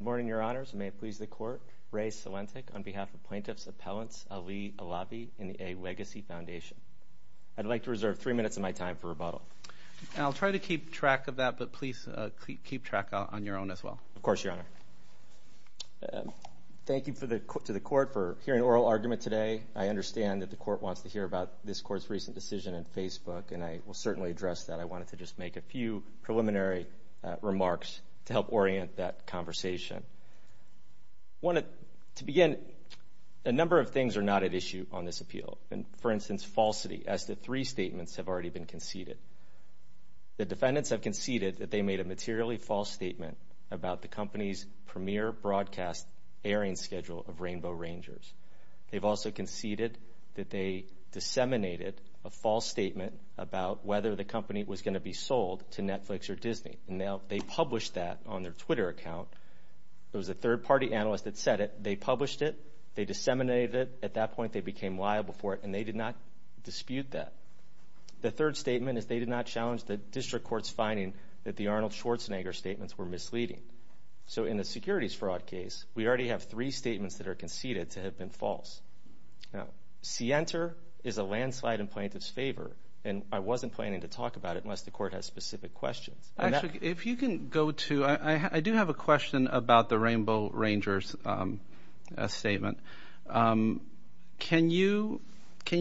Good morning, Your Honors. May it please the Court, Ray Salentik on behalf of Plaintiffs' Appellants Ali Alavi and the A. Legacy Foundation. I'd like to reserve three minutes of my time for rebuttal. I'll try to keep track of that, but please keep track on your own as well. Of course, Your Honor. Thank you to the Court for hearing oral argument today. I understand that the Court wants to hear about this Court's recent decision in Facebook, and I will certainly address that. I wanted to just make a few preliminary remarks to help orient that conversation. To begin, a number of things are not at issue on this appeal. For instance, falsity, as the three statements have already been conceded. The defendants have conceded that they made a materially false statement about the company's premier broadcast airing schedule of Rainbow Rangers. They've also conceded that they disseminated a false statement about whether the company was going to be sold to Netflix or Disney. Now, they published that on their Twitter account. It was a third-party analyst that said it. They published it. They disseminated it. At that point, they became liable for it, and they did not dispute that. The third statement is they did not challenge the district court's finding that the Arnold Schwarzenegger statements were misleading. So in the securities fraud case, we already have three statements that are conceded to have been false. Now, Sienter is a landslide in plaintiff's favor, and I wasn't planning to talk about it unless the Court has specific questions. Actually, if you can go to – I do have a question about the Rainbow Rangers statement. Can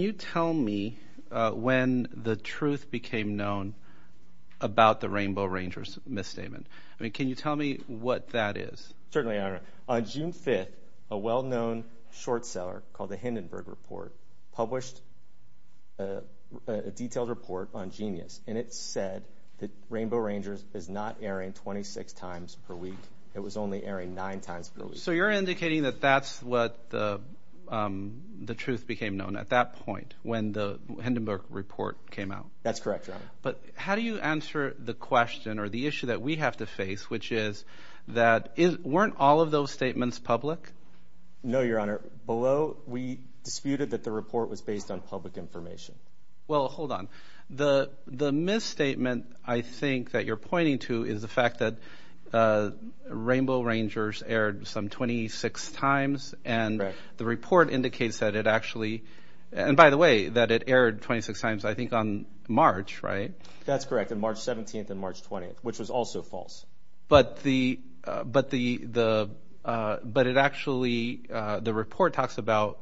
you tell me when the truth became known about the Rainbow Rangers misstatement? I mean, can you tell me what that is? Certainly, Your Honor. On June 5th, a well-known short seller called the Hindenburg Report published a detailed report on Genius, and it said that Rainbow Rangers is not airing 26 times per week. It was only airing nine times per week. So you're indicating that that's what the truth became known at that point when the Hindenburg Report came out. That's correct, Your Honor. But how do you answer the question or the issue that we have to face, which is that weren't all of those statements public? No, Your Honor. Below, we disputed that the report was based on public information. Well, hold on. The misstatement, I think, that you're pointing to is the fact that Rainbow Rangers aired some 26 times, and the report indicates that it actually – and by the way, that it aired 26 times, I think, on March, right? That's correct, on March 17th and March 20th, which was also false. But it actually – the report talks about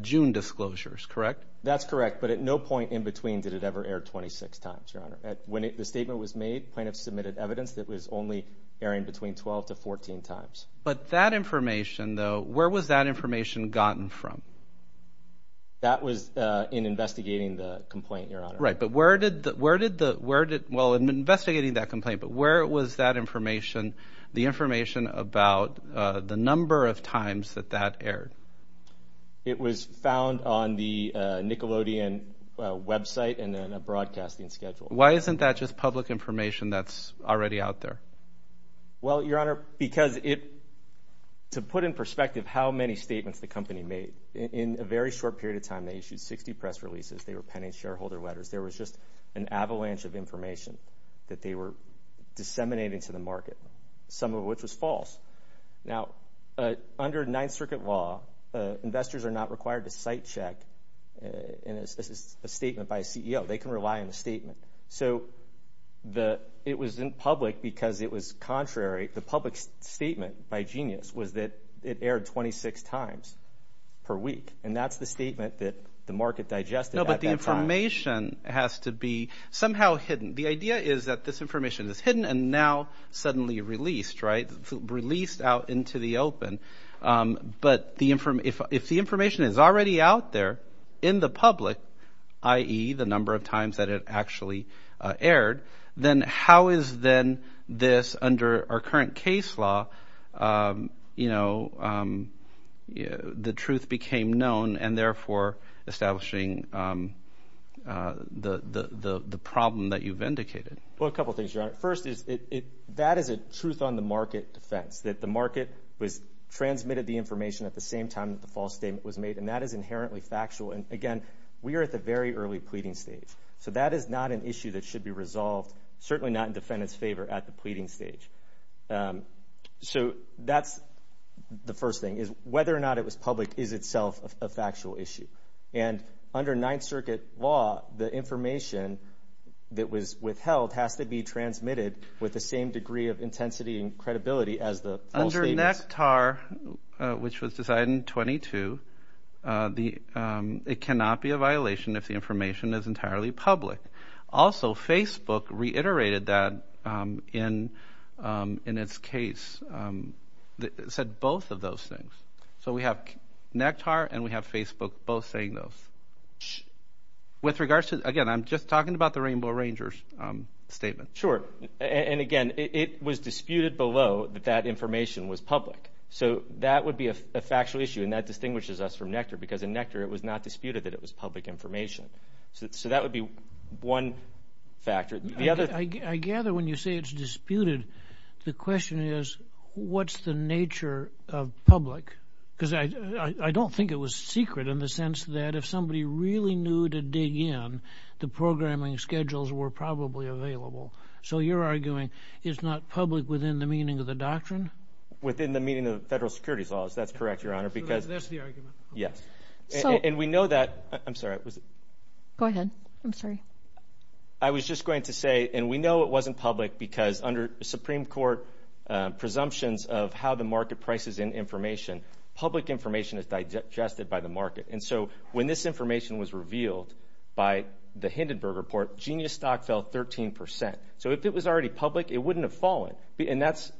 June disclosures, correct? That's correct, but at no point in between did it ever air 26 times, Your Honor. When the statement was made, plaintiffs submitted evidence that it was only airing between 12 to 14 times. But that information, though, where was that information gotten from? That was in investigating the complaint, Your Honor. Right, but where did the – well, in investigating that complaint, but where was that information, the information about the number of times that that aired? It was found on the Nickelodeon website and then a broadcasting schedule. Why isn't that just public information that's already out there? Well, Your Honor, because it – to put in perspective how many statements the company made, in a very short period of time they issued 60 press releases, they were penning shareholder letters. There was just an avalanche of information that they were disseminating to the market, some of which was false. Now, under Ninth Circuit law, investors are not required to site check a statement by a CEO. They can rely on the statement. So it was in public because it was contrary. The public statement by Genius was that it aired 26 times per week, and that's the statement that the market digested at that time. No, but the information has to be somehow hidden. The idea is that this information is hidden and now suddenly released, right, released out into the open. But if the information is already out there in the public, i.e., the number of times that it actually aired, then how is then this under our current case law, you know, the truth became known and therefore establishing the problem that you've indicated? Well, a couple of things, Your Honor. First is that is a truth-on-the-market defense, that the market transmitted the information at the same time that the false statement was made, and that is inherently factual. And again, we are at the very early pleading stage, so that is not an issue that should be resolved, certainly not in defendant's favor at the pleading stage. So that's the first thing, is whether or not it was public is itself a factual issue. And under Ninth Circuit law, the information that was withheld has to be transmitted with the same degree of intensity and credibility as the false statements. Under NECTAR, which was decided in 22, it cannot be a violation if the information is entirely public. Also, Facebook reiterated that in its case, said both of those things. So we have NECTAR and we have Facebook both saying those. With regards to, again, I'm just talking about the Rainbow Rangers statement. Sure, and again, it was disputed below that that information was public. So that would be a factual issue, and that distinguishes us from NECTAR because in NECTAR it was not disputed that it was public information. So that would be one factor. I gather when you say it's disputed, the question is, what's the nature of public? Because I don't think it was secret in the sense that if somebody really knew to dig in, the programming schedules were probably available. So you're arguing it's not public within the meaning of the doctrine? Within the meaning of the federal security laws, that's correct, Your Honor. So that's the argument. Yes. I'm sorry. Go ahead. I'm sorry. I was just going to say, and we know it wasn't public because under Supreme Court presumptions of how the market prices in information, public information is digested by the market. And so when this information was revealed by the Hindenburg Report, genius stock fell 13%. So if it was already public, it wouldn't have fallen. And that's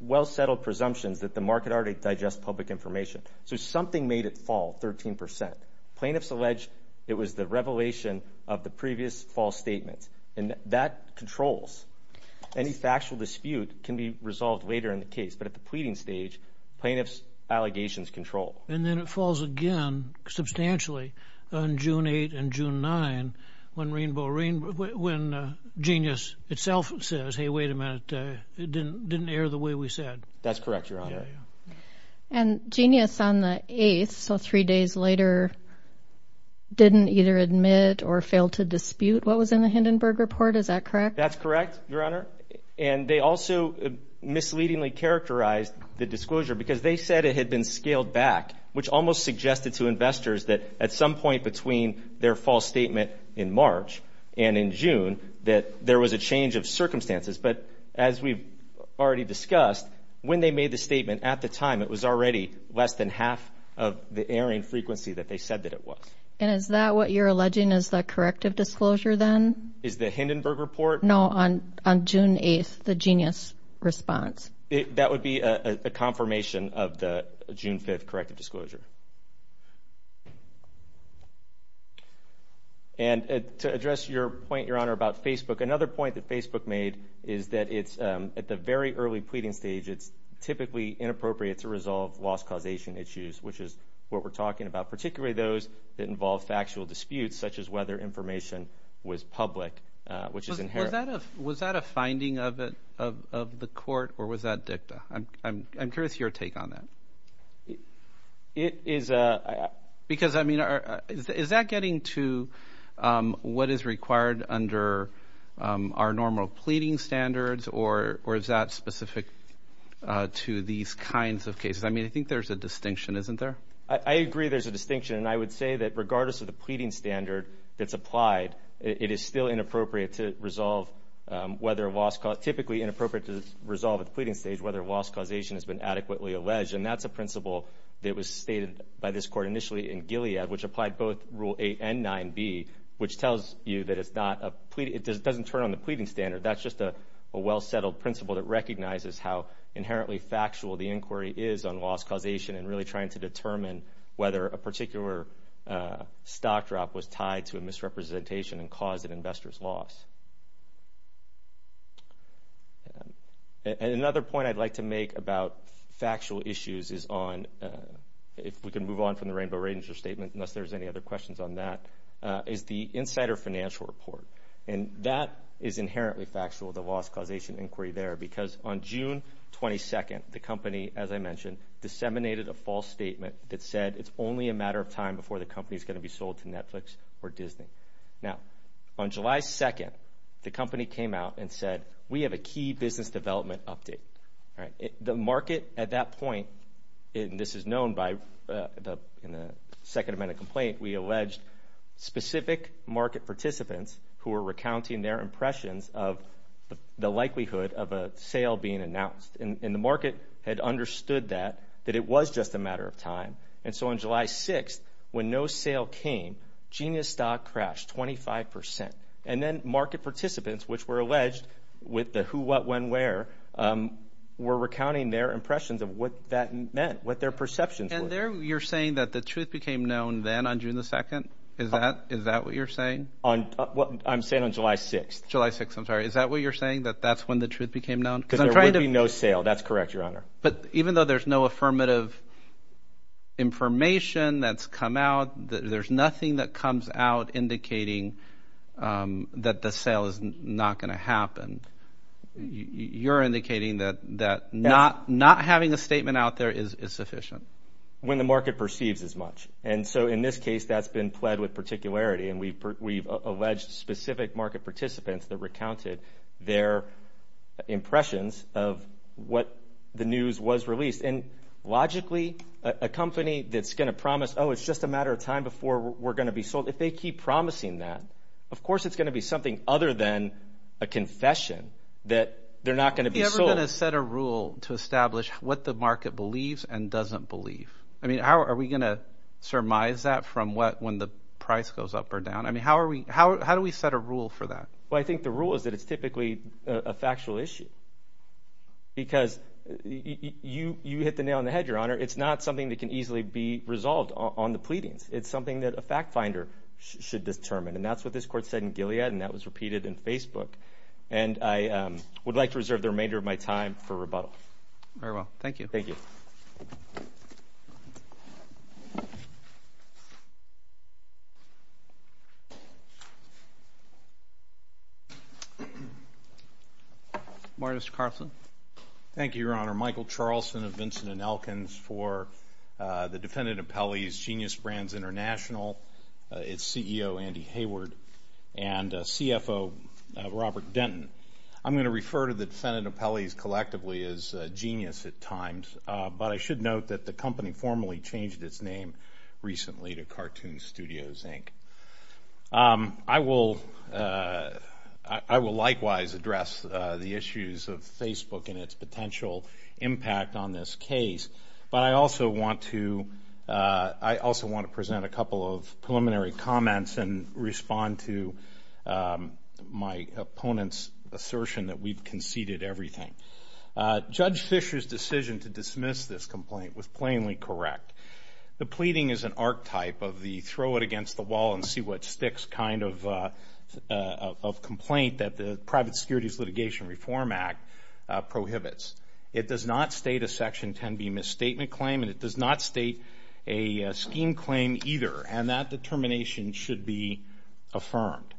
well-settled presumptions that the market already digests public information. So something made it fall 13%. Plaintiffs allege it was the revelation of the previous false statement. And that controls. Any factual dispute can be resolved later in the case. But at the pleading stage, plaintiffs' allegations control. And then it falls again substantially on June 8 and June 9 when Genius itself says, hey, wait a minute, it didn't air the way we said. That's correct, Your Honor. And Genius on the 8th, so three days later, didn't either admit or fail to dispute what was in the Hindenburg Report. Is that correct? That's correct, Your Honor. And they also misleadingly characterized the disclosure because they said it had been scaled back, which almost suggested to investors that at some point between their false statement in March and in June that there was a change of circumstances. But as we've already discussed, when they made the statement at the time, it was already less than half of the airing frequency that they said that it was. And is that what you're alleging is the corrective disclosure then? Is the Hindenburg Report? No, on June 8th, the Genius response. That would be a confirmation of the June 5th corrective disclosure. And to address your point, Your Honor, about Facebook, another point that Facebook made is that at the very early pleading stage, it's typically inappropriate to resolve loss causation issues, which is what we're talking about, particularly those that involve factual disputes, such as whether information was public, which is inherent. Was that a finding of the court, or was that dicta? I'm curious your take on that. Because, I mean, is that getting to what is required under our normal pleading standards, or is that specific to these kinds of cases? I mean, I think there's a distinction, isn't there? I agree there's a distinction. And I would say that regardless of the pleading standard that's applied, it is still inappropriate to resolve whether a loss cause – typically inappropriate to resolve at the pleading stage whether a loss causation has been adequately alleged. And that's a principle that was stated by this court initially in Gilead, which applied both Rule 8 and 9B, which tells you that it's not a – it doesn't turn on the pleading standard. That's just a well-settled principle that recognizes how inherently factual the inquiry is on loss causation and really trying to determine whether a particular stock drop was tied to a misrepresentation and caused an investor's loss. And another point I'd like to make about factual issues is on – if we can move on from the Rainbow Ranger statement, unless there's any other questions on that, is the Insider Financial Report. And that is inherently factual, the loss causation inquiry there, because on June 22nd, the company, as I mentioned, disseminated a false statement that said it's only a matter of time before the company is going to be sold to Netflix or Disney. Now, on July 2nd, the company came out and said, we have a key business development update. The market at that point – and this is known by – in the second amendment complaint, we alleged specific market participants who were recounting their impressions of the likelihood of a sale being announced. And the market had understood that, that it was just a matter of time. And so on July 6th, when no sale came, Genius Stock crashed 25 percent. And then market participants, which were alleged with the who, what, when, where, were recounting their impressions of what that meant, what their perceptions were. And there you're saying that the truth became known then on June 2nd? Is that what you're saying? I'm saying on July 6th. July 6th, I'm sorry. Is that what you're saying, that that's when the truth became known? Because there would be no sale. That's correct, Your Honor. But even though there's no affirmative information that's come out, there's nothing that comes out indicating that the sale is not going to happen. You're indicating that not having a statement out there is sufficient. When the market perceives as much. And so in this case, that's been pled with particularity, and we've alleged specific market participants that recounted their impressions of what the news was released. And logically, a company that's going to promise, oh, it's just a matter of time before we're going to be sold, if they keep promising that, of course it's going to be something other than a confession that they're not going to be sold. Are we ever going to set a rule to establish what the market believes and doesn't believe? I mean, are we going to surmise that from when the price goes up or down? I mean, how do we set a rule for that? Well, I think the rule is that it's typically a factual issue because you hit the nail on the head, Your Honor. It's not something that can easily be resolved on the pleadings. It's something that a fact finder should determine. And that's what this court said in Gilead, and that was repeated in Facebook. And I would like to reserve the remainder of my time for rebuttal. Very well. Thank you. Thank you. Morris Carson. Thank you, Your Honor. Michael Charlson of Vincent & Elkins for the Defendant Appellees, Genius Brands International. Its CEO, Andy Hayward, and CFO, Robert Denton. I'm going to refer to the Defendant Appellees collectively as Genius at times, but I should note that the company formally changed its name recently to Cartoon Studios, Inc. I will likewise address the issues of Facebook and its potential impact on this case, but I also want to present a couple of preliminary comments and respond to my opponent's assertion that we've conceded everything. Judge Fisher's decision to dismiss this complaint was plainly correct. The pleading is an archetype of the throw-it-against-the-wall-and-see-what-sticks kind of complaint that the Private Securities Litigation Reform Act prohibits. It does not state a Section 10b misstatement claim, and it does not state a scheme claim either, and that determination should be affirmed.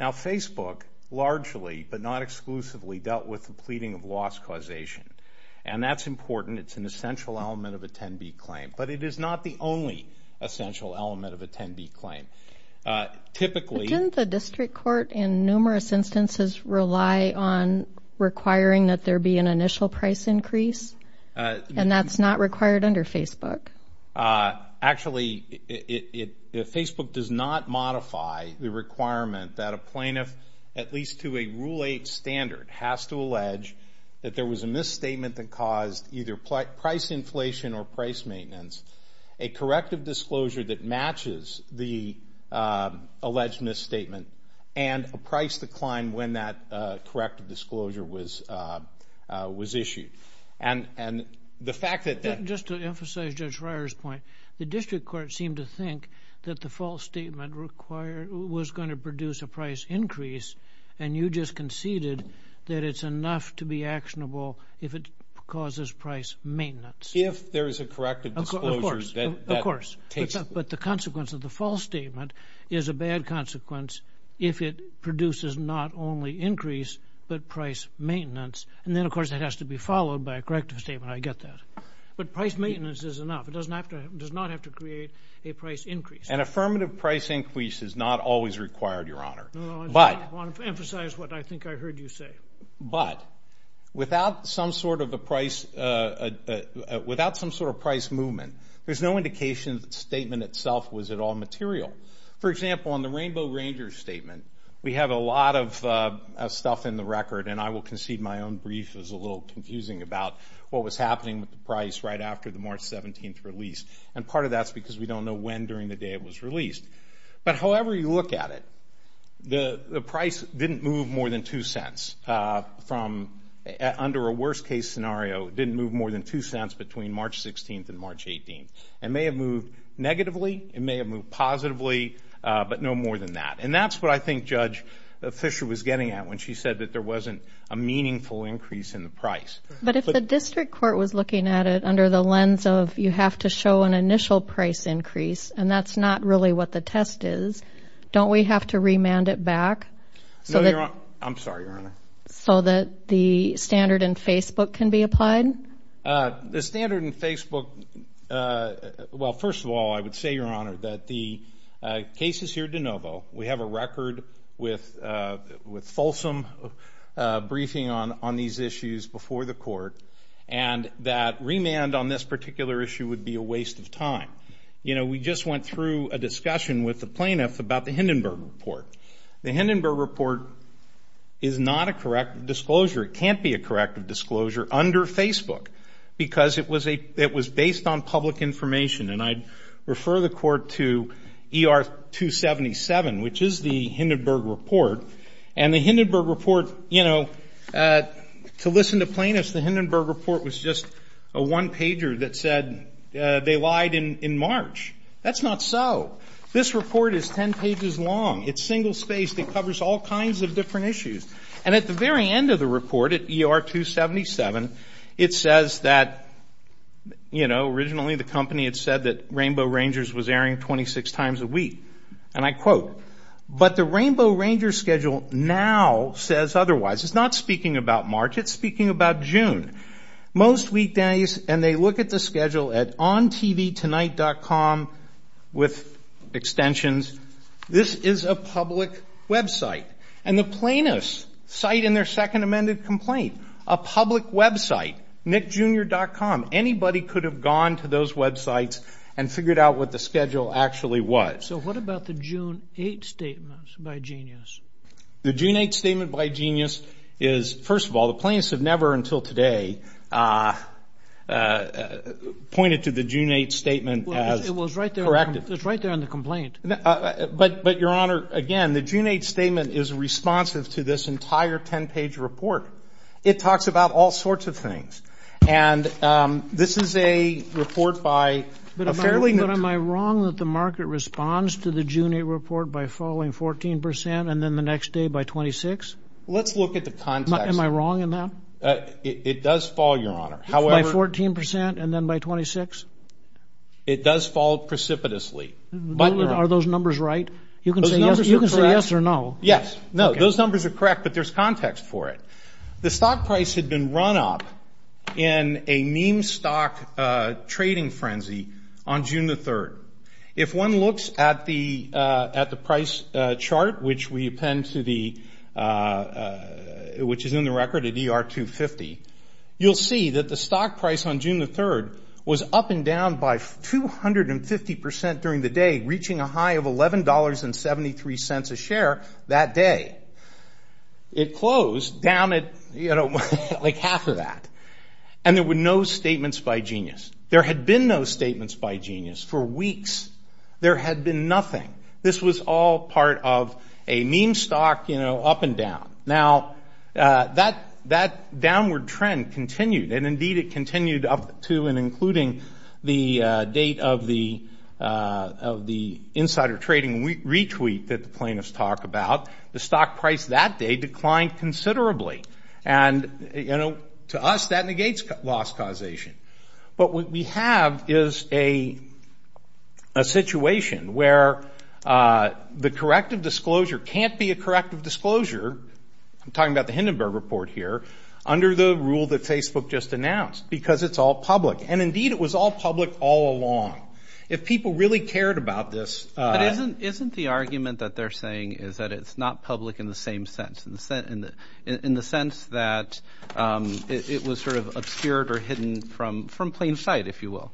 Now, Facebook largely, but not exclusively, dealt with the pleading of loss causation, and that's important. It's an essential element of a 10b claim. But it is not the only essential element of a 10b claim. Typically the district court in numerous instances rely on requiring that there be an initial price increase, and that's not required under Facebook. Actually, Facebook does not modify the requirement that a plaintiff, at least to a Rule 8 standard, has to allege that there was a misstatement that caused either price inflation or price maintenance, a corrective disclosure that matches the alleged misstatement, and a price decline when that corrective disclosure was issued. And the fact that that... Just to emphasize Judge Reier's point, the district court seemed to think that the false statement was going to produce a price increase, and you just conceded that it's enough to be actionable if it causes price maintenance. If there is a corrective disclosure that... Of course, of course. But the consequence of the false statement is a bad consequence if it produces not only increase but price maintenance. And then, of course, it has to be followed by a corrective statement. I get that. But price maintenance is enough. It does not have to create a price increase. An affirmative price increase is not always required, Your Honor. No, no. I just want to emphasize what I think I heard you say. But without some sort of a price movement, there's no indication that the statement itself was at all material. For example, on the Rainbow Ranger statement, we have a lot of stuff in the record, and I will concede my own brief was a little confusing about what was happening with the price right after the March 17th release. And part of that's because we don't know when during the day it was released. But however you look at it, the price didn't move more than two cents from under a worst-case scenario. It didn't move more than two cents between March 16th and March 18th. It may have moved negatively. It may have moved positively, but no more than that. And that's what I think Judge Fisher was getting at when she said that there wasn't a meaningful increase in the price. But if the district court was looking at it under the lens of you have to show an initial price increase, and that's not really what the test is, don't we have to remand it back? No, Your Honor. I'm sorry, Your Honor. So that the standard in Facebook can be applied? The standard in Facebook, well, first of all, I would say, Your Honor, that the case is here de novo. We have a record with fulsome briefing on these issues before the court, and that remand on this particular issue would be a waste of time. You know, we just went through a discussion with the plaintiff about the Hindenburg Report. The Hindenburg Report is not a correct disclosure. It can't be a correct disclosure under Facebook because it was based on public information, and I'd refer the court to ER 277, which is the Hindenburg Report. And the Hindenburg Report, you know, to listen to plaintiffs, the Hindenburg Report was just a one-pager that said they lied in March. That's not so. This report is ten pages long. It's single-spaced. It covers all kinds of different issues. And at the very end of the report at ER 277, it says that, you know, originally the company had said that Rainbow Rangers was airing 26 times a week, and I quote, but the Rainbow Rangers schedule now says otherwise. It's not speaking about March. It's speaking about June. Most weekdays, and they look at the schedule at ontvtonight.com with extensions. This is a public website. And the plaintiffs cite in their second amended complaint a public website, nickjr.com. Anybody could have gone to those websites and figured out what the schedule actually was. So what about the June 8th statement by Genius? The June 8th statement by Genius is, first of all, the plaintiffs have never until today pointed to the June 8th statement as corrective. It was right there on the complaint. But, Your Honor, again, the June 8th statement is responsive to this entire ten-page report. It talks about all sorts of things. And this is a report by a fairly ñ But am I wrong that the market responds to the June 8th report by falling 14 percent and then the next day by 26? Let's look at the context. Am I wrong in that? It does fall, Your Honor. By 14 percent and then by 26? It does fall precipitously. Are those numbers right? You can say yes or no. Yes. No, those numbers are correct, but there's context for it. The stock price had been run up in a meme stock trading frenzy on June the 3rd. If one looks at the price chart, which we append to the ñ which is in the record at ER250, you'll see that the stock price on June the 3rd was up and down by 250 percent during the day, reaching a high of $11.73 a share that day. It closed down at, you know, like half of that. And there were no statements by Genius. There had been no statements by Genius for weeks. There had been nothing. This was all part of a meme stock, you know, up and down. Now, that downward trend continued, and indeed it continued up to and including the date of the insider trading retweet that the plaintiffs talk about. The stock price that day declined considerably. And, you know, to us, that negates loss causation. But what we have is a situation where the corrective disclosure can't be a corrective disclosure, I'm talking about the Hindenburg Report here, under the rule that Facebook just announced, because it's all public. And, indeed, it was all public all along. If people really cared about this ñ But isn't the argument that they're saying is that it's not public in the same sense, in the sense that it was sort of obscured or hidden from plain sight, if you will?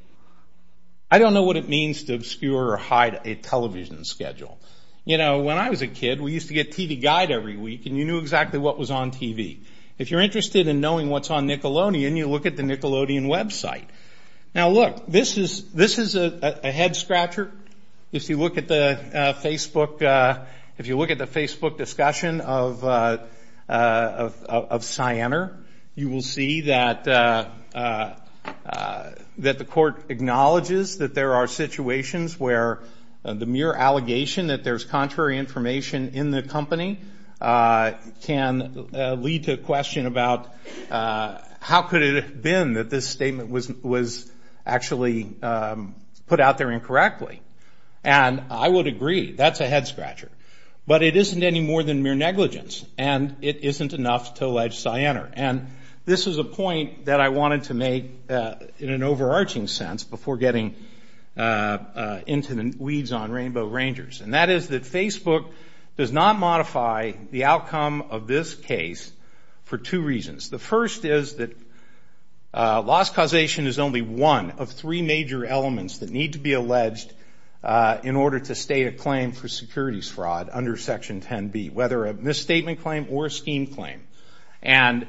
I don't know what it means to obscure or hide a television schedule. You know, when I was a kid, we used to get TV Guide every week, and you knew exactly what was on TV. If you're interested in knowing what's on Nickelodeon, you look at the Nickelodeon website. Now, look, this is a head scratcher. If you look at the Facebook discussion of Cyanar, you will see that the court acknowledges that there are situations where the mere allegation that there's contrary information in the company can lead to a question about how could it have been that this statement was actually put out there incorrectly. And I would agree, that's a head scratcher. But it isn't any more than mere negligence, and it isn't enough to allege Cyanar. And this is a point that I wanted to make in an overarching sense before getting into the weeds on Rainbow Rangers. And that is that Facebook does not modify the outcome of this case for two reasons. The first is that loss causation is only one of three major elements that need to be alleged in order to state a claim for securities fraud under Section 10B, whether a misstatement claim or a scheme claim. And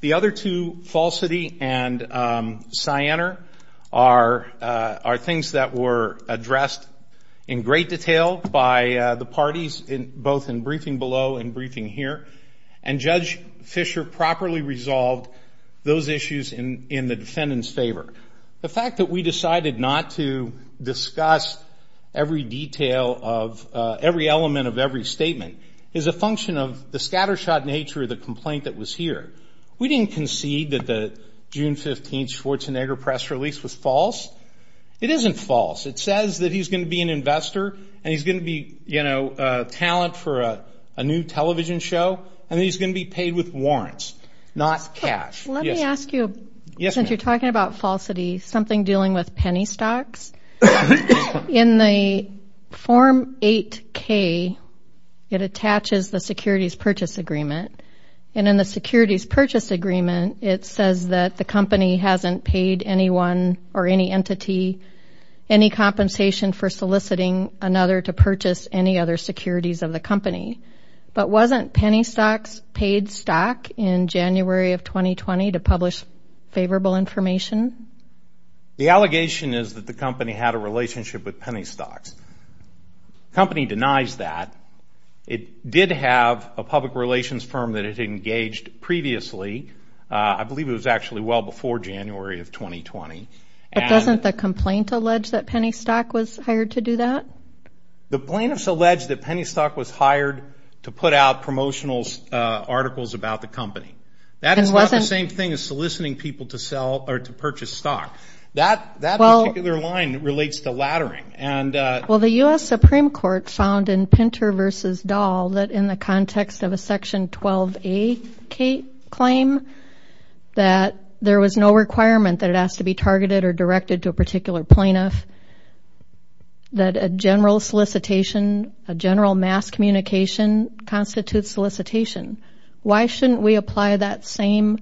the other two, falsity and Cyanar, are things that were addressed in great detail by the parties, both in briefing below and briefing here. And Judge Fischer properly resolved those issues in the defendant's favor. The fact that we decided not to discuss every detail of every element of every statement is a function of the scattershot nature of the complaint that was here. We didn't concede that the June 15th Schwarzenegger press release was false. It isn't false. It says that he's going to be an investor and he's going to be, you know, a talent for a new television show and he's going to be paid with warrants, not cash. Let me ask you, since you're talking about falsity, something dealing with penny stocks. In the Form 8K, it attaches the securities purchase agreement. And in the securities purchase agreement, it says that the company hasn't paid anyone or any entity any compensation for soliciting another to purchase any other securities of the company. But wasn't Penny Stocks paid stock in January of 2020 to publish favorable information? The allegation is that the company had a relationship with Penny Stocks. The company denies that. It did have a public relations firm that it had engaged previously. I believe it was actually well before January of 2020. But doesn't the complaint allege that Penny Stocks was hired to do that? The plaintiffs allege that Penny Stocks was hired to put out promotional articles about the company. That is not the same thing as soliciting people to sell or to purchase stock. That particular line relates to laddering. Well, the U.S. Supreme Court found in Pinter v. Dahl that in the context of a Section 12A claim that there was no requirement that it has to be targeted or directed to a particular plaintiff that a general solicitation, a general mass communication constitutes solicitation. Why shouldn't we apply that same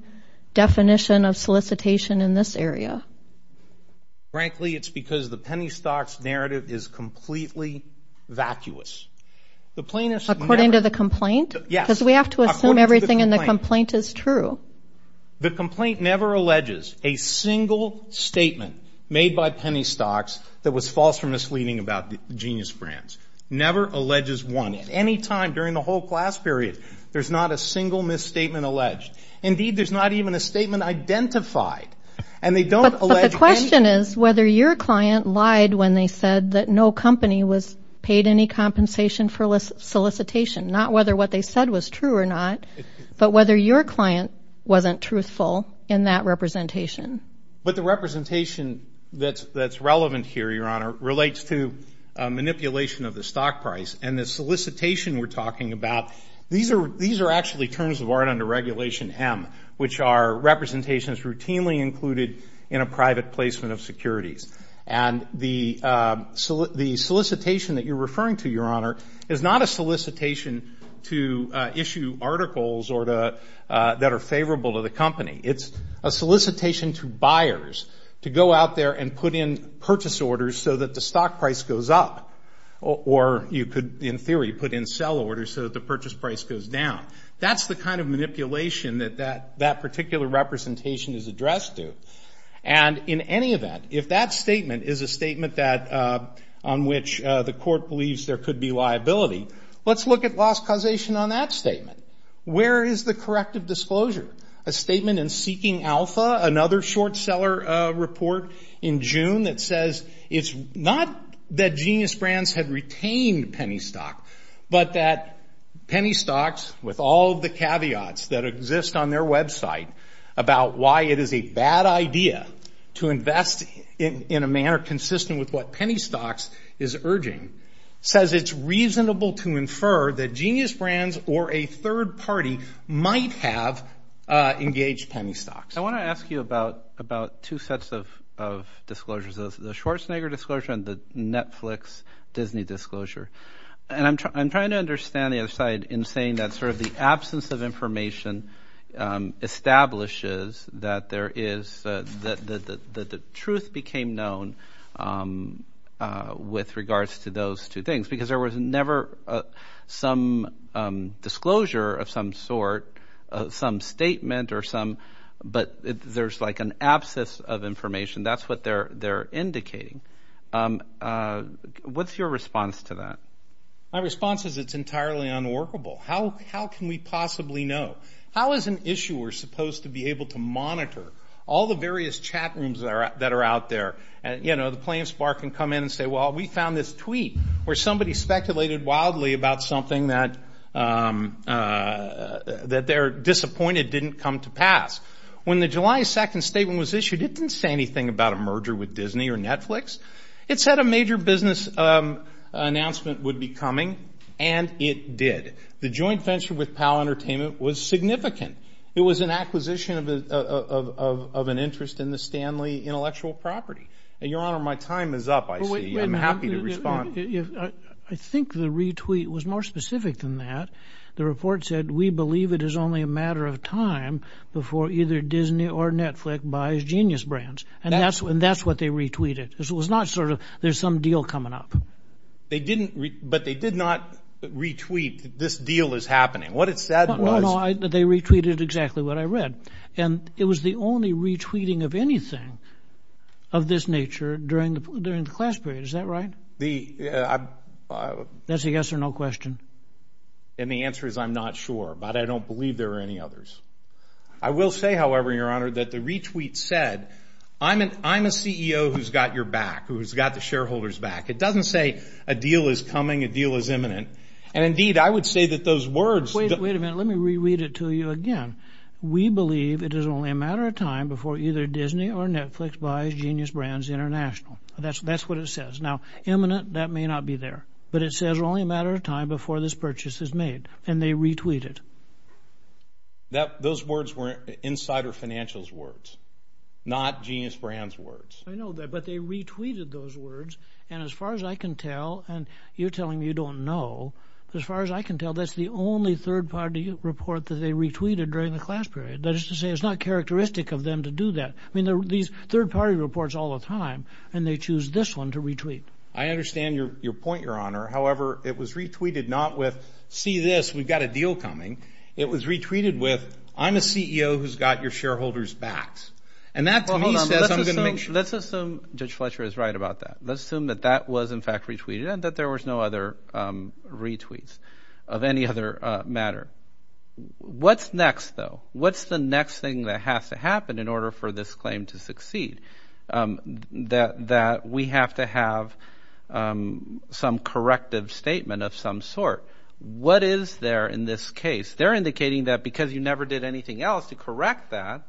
definition of solicitation in this area? Frankly, it's because the Penny Stocks narrative is completely vacuous. According to the complaint? Yes. Because we have to assume everything in the complaint is true. The complaint never alleges a single statement made by Penny Stocks that was false or misleading about Genius Brands. Never alleges one. At any time during the whole class period, there's not a single misstatement alleged. Indeed, there's not even a statement identified. But the question is whether your client lied when they said that no company was paid any compensation for solicitation, not whether what they said was true or not, but whether your client wasn't truthful in that representation. But the representation that's relevant here, Your Honor, relates to manipulation of the stock price. And the solicitation we're talking about, these are actually terms of art under Regulation M, which are representations routinely included in a private placement of securities. And the solicitation that you're referring to, Your Honor, is not a solicitation to issue articles that are favorable to the company. It's a solicitation to buyers to go out there and put in purchase orders so that the stock price goes up. Or you could, in theory, put in sell orders so that the purchase price goes down. That's the kind of manipulation that that particular representation is addressed to. And in any event, if that statement is a statement on which the court believes there could be liability, let's look at loss causation on that statement. Where is the corrective disclosure? A statement in Seeking Alpha, another short seller report in June, that says it's not that Genius Brands had retained penny stock, but that penny stocks, with all of the caveats that exist on their website, about why it is a bad idea to invest in a manner consistent with what penny stocks is urging, says it's reasonable to infer that Genius Brands or a third party might have engaged penny stocks. I want to ask you about two sets of disclosures, the Schwarzenegger disclosure and the Netflix Disney disclosure. And I'm trying to understand the other side in saying that sort of the absence of information establishes that the truth became known with regards to those two things. Because there was never some disclosure of some sort, some statement, but there's like an absence of information. That's what they're indicating. What's your response to that? My response is it's entirely unworkable. How can we possibly know? How is an issuer supposed to be able to monitor all the various chat rooms that are out there? You know, the plane spark can come in and say, well, we found this tweet where somebody speculated wildly about something that they're disappointed didn't come to pass. When the July 2nd statement was issued, it didn't say anything about a merger with Disney or Netflix. It said a major business announcement would be coming, and it did. The joint venture with Pal Entertainment was significant. It was an acquisition of an interest in the Stanley intellectual property. And, Your Honor, my time is up, I see. I'm happy to respond. I think the retweet was more specific than that. The report said, we believe it is only a matter of time before either Disney or Netflix buys Genius Brands. And that's what they retweeted. It was not sort of, there's some deal coming up. But they did not retweet, this deal is happening. What it said was. No, no, they retweeted exactly what I read. And it was the only retweeting of anything of this nature during the class period. Is that right? That's a yes or no question. And the answer is I'm not sure, but I don't believe there are any others. I will say, however, Your Honor, that the retweet said, I'm a CEO who's got your back, who's got the shareholders back. It doesn't say a deal is coming, a deal is imminent. And, indeed, I would say that those words. Wait a minute, let me reread it to you again. We believe it is only a matter of time before either Disney or Netflix buys Genius Brands International. That's what it says. Now, imminent, that may not be there. But it says only a matter of time before this purchase is made. And they retweeted. Those words were insider financials words, not Genius Brands words. I know that, but they retweeted those words. And as far as I can tell, and you're telling me you don't know, as far as I can tell, that's the only third-party report that they retweeted during the class period. That is to say it's not characteristic of them to do that. I mean, there are these third-party reports all the time, and they choose this one to retweet. I understand your point, Your Honor. However, it was retweeted not with, see this, we've got a deal coming. It was retweeted with, I'm a CEO who's got your shareholders back. And that, to me, says I'm going to make sure. Let's assume Judge Fletcher is right about that. Let's assume that that was, in fact, retweeted and that there was no other retweets of any other matter. What's next, though? What's the next thing that has to happen in order for this claim to succeed, that we have to have some corrective statement of some sort? What is there in this case? They're indicating that because you never did anything else to correct that,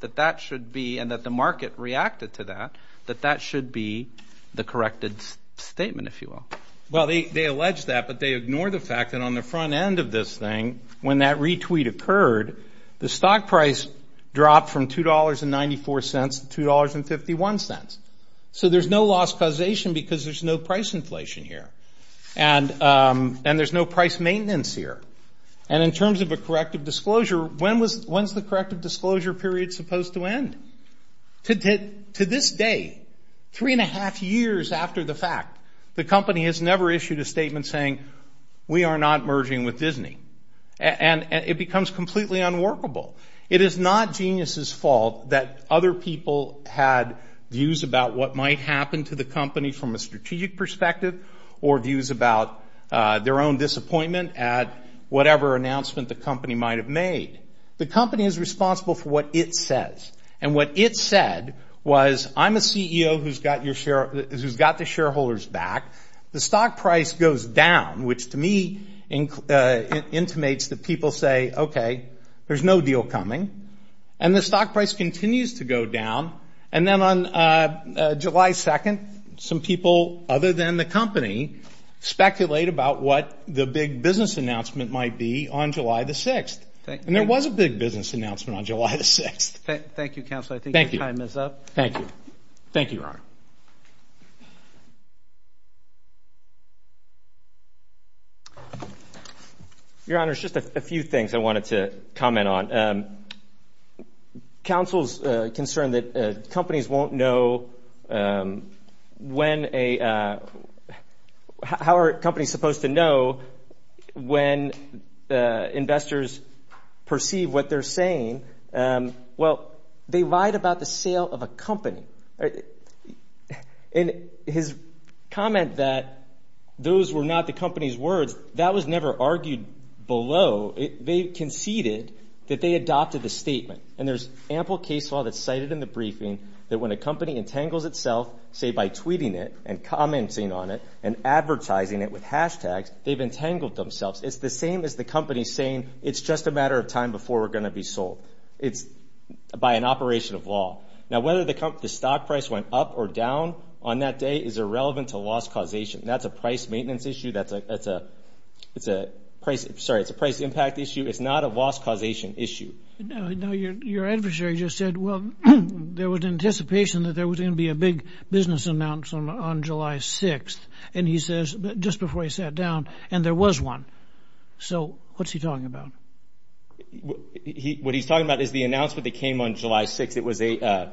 that that should be, and that the market reacted to that, that that should be the corrected statement, if you will. Well, they allege that, but they ignore the fact that on the front end of this thing, when that retweet occurred, the stock price dropped from $2.94 to $2.51. So there's no loss causation because there's no price inflation here. And there's no price maintenance here. And in terms of a corrective disclosure, when's the corrective disclosure period supposed to end? To this day, three and a half years after the fact, the company has never issued a statement saying, we are not merging with Disney. And it becomes completely unworkable. It is not genius's fault that other people had views about what might happen to the company from a strategic perspective or views about their own disappointment at whatever announcement the company might have made. The company is responsible for what it says. And what it said was, I'm a CEO who's got the shareholders back. The stock price goes down, which to me intimates that people say, okay, there's no deal coming. And the stock price continues to go down. And then on July 2nd, some people, other than the company, speculate about what the big business announcement might be on July the 6th. And there was a big business announcement on July the 6th. Thank you, Counselor. I think your time is up. Thank you. Thank you, Your Honor. Your Honor, there's just a few things I wanted to comment on. Counsel's concern that companies won't know when a – how are companies supposed to know when investors perceive what they're saying. Well, they lied about the sale of a company. And his comment that those were not the company's words, that was never argued below. They conceded that they adopted the statement. And there's ample case law that's cited in the briefing that when a company entangles itself, say, by tweeting it and commenting on it and advertising it with hashtags, they've entangled themselves. It's the same as the company saying, it's just a matter of time before we're going to be sold. It's by an operation of law. Now, whether the stock price went up or down on that day is irrelevant to loss causation. That's a price maintenance issue. That's a – sorry, it's a price impact issue. It's not a loss causation issue. Now, your adversary just said, well, there was anticipation that there was going to be a big business announcement on July 6th. And he says, just before he sat down, and there was one. So what's he talking about? What he's talking about is the announcement that came on July 6th. It was an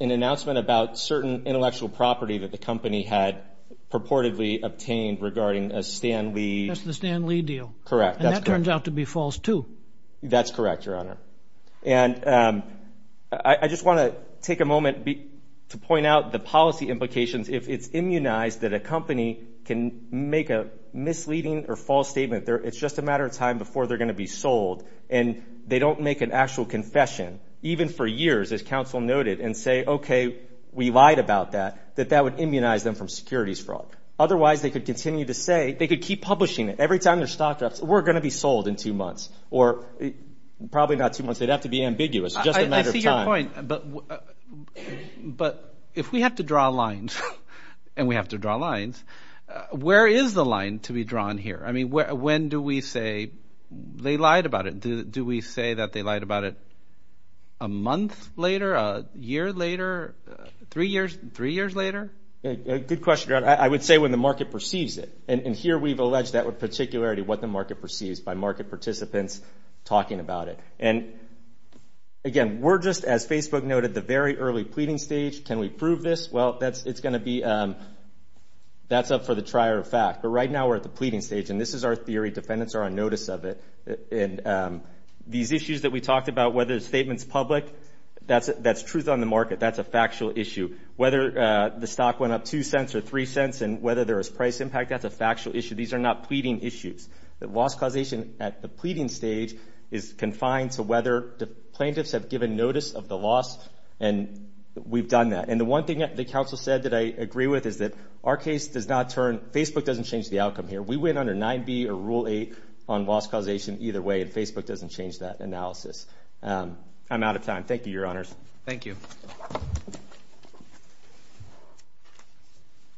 announcement about certain intellectual property that the company had purportedly obtained regarding a Stan Lee. That's the Stan Lee deal. Correct. And that turns out to be false too. That's correct, Your Honor. And I just want to take a moment to point out the policy implications. If it's immunized that a company can make a misleading or false statement, it's just a matter of time before they're going to be sold, and they don't make an actual confession, even for years, as counsel noted, and say, okay, we lied about that, that that would immunize them from securities fraud. Otherwise, they could continue to say – they could keep publishing it. Every time there's stock drops, we're going to be sold in two months, or probably not two months. They'd have to be ambiguous. It's just a matter of time. I see your point. But if we have to draw lines, and we have to draw lines, where is the line to be drawn here? I mean, when do we say they lied about it? Do we say that they lied about it a month later, a year later, three years later? Good question, Your Honor. I would say when the market perceives it. And here we've alleged that with particularity what the market perceives by market participants talking about it. And, again, we're just, as Facebook noted, the very early pleading stage. Can we prove this? Well, it's going to be – that's up for the trier of fact. But right now we're at the pleading stage, and this is our theory. Defendants are on notice of it. And these issues that we talked about, whether the statement's public, that's truth on the market. That's a factual issue. Whether the stock went up two cents or three cents and whether there was price impact, that's a factual issue. These are not pleading issues. The loss causation at the pleading stage is confined to whether the plaintiffs have given notice of the loss, and we've done that. And the one thing that the counsel said that I agree with is that our case does not turn – Facebook doesn't change the outcome here. We win under 9B or Rule 8 on loss causation either way, and Facebook doesn't change that analysis. I'm out of time. Thank you, Your Honors. Thank you.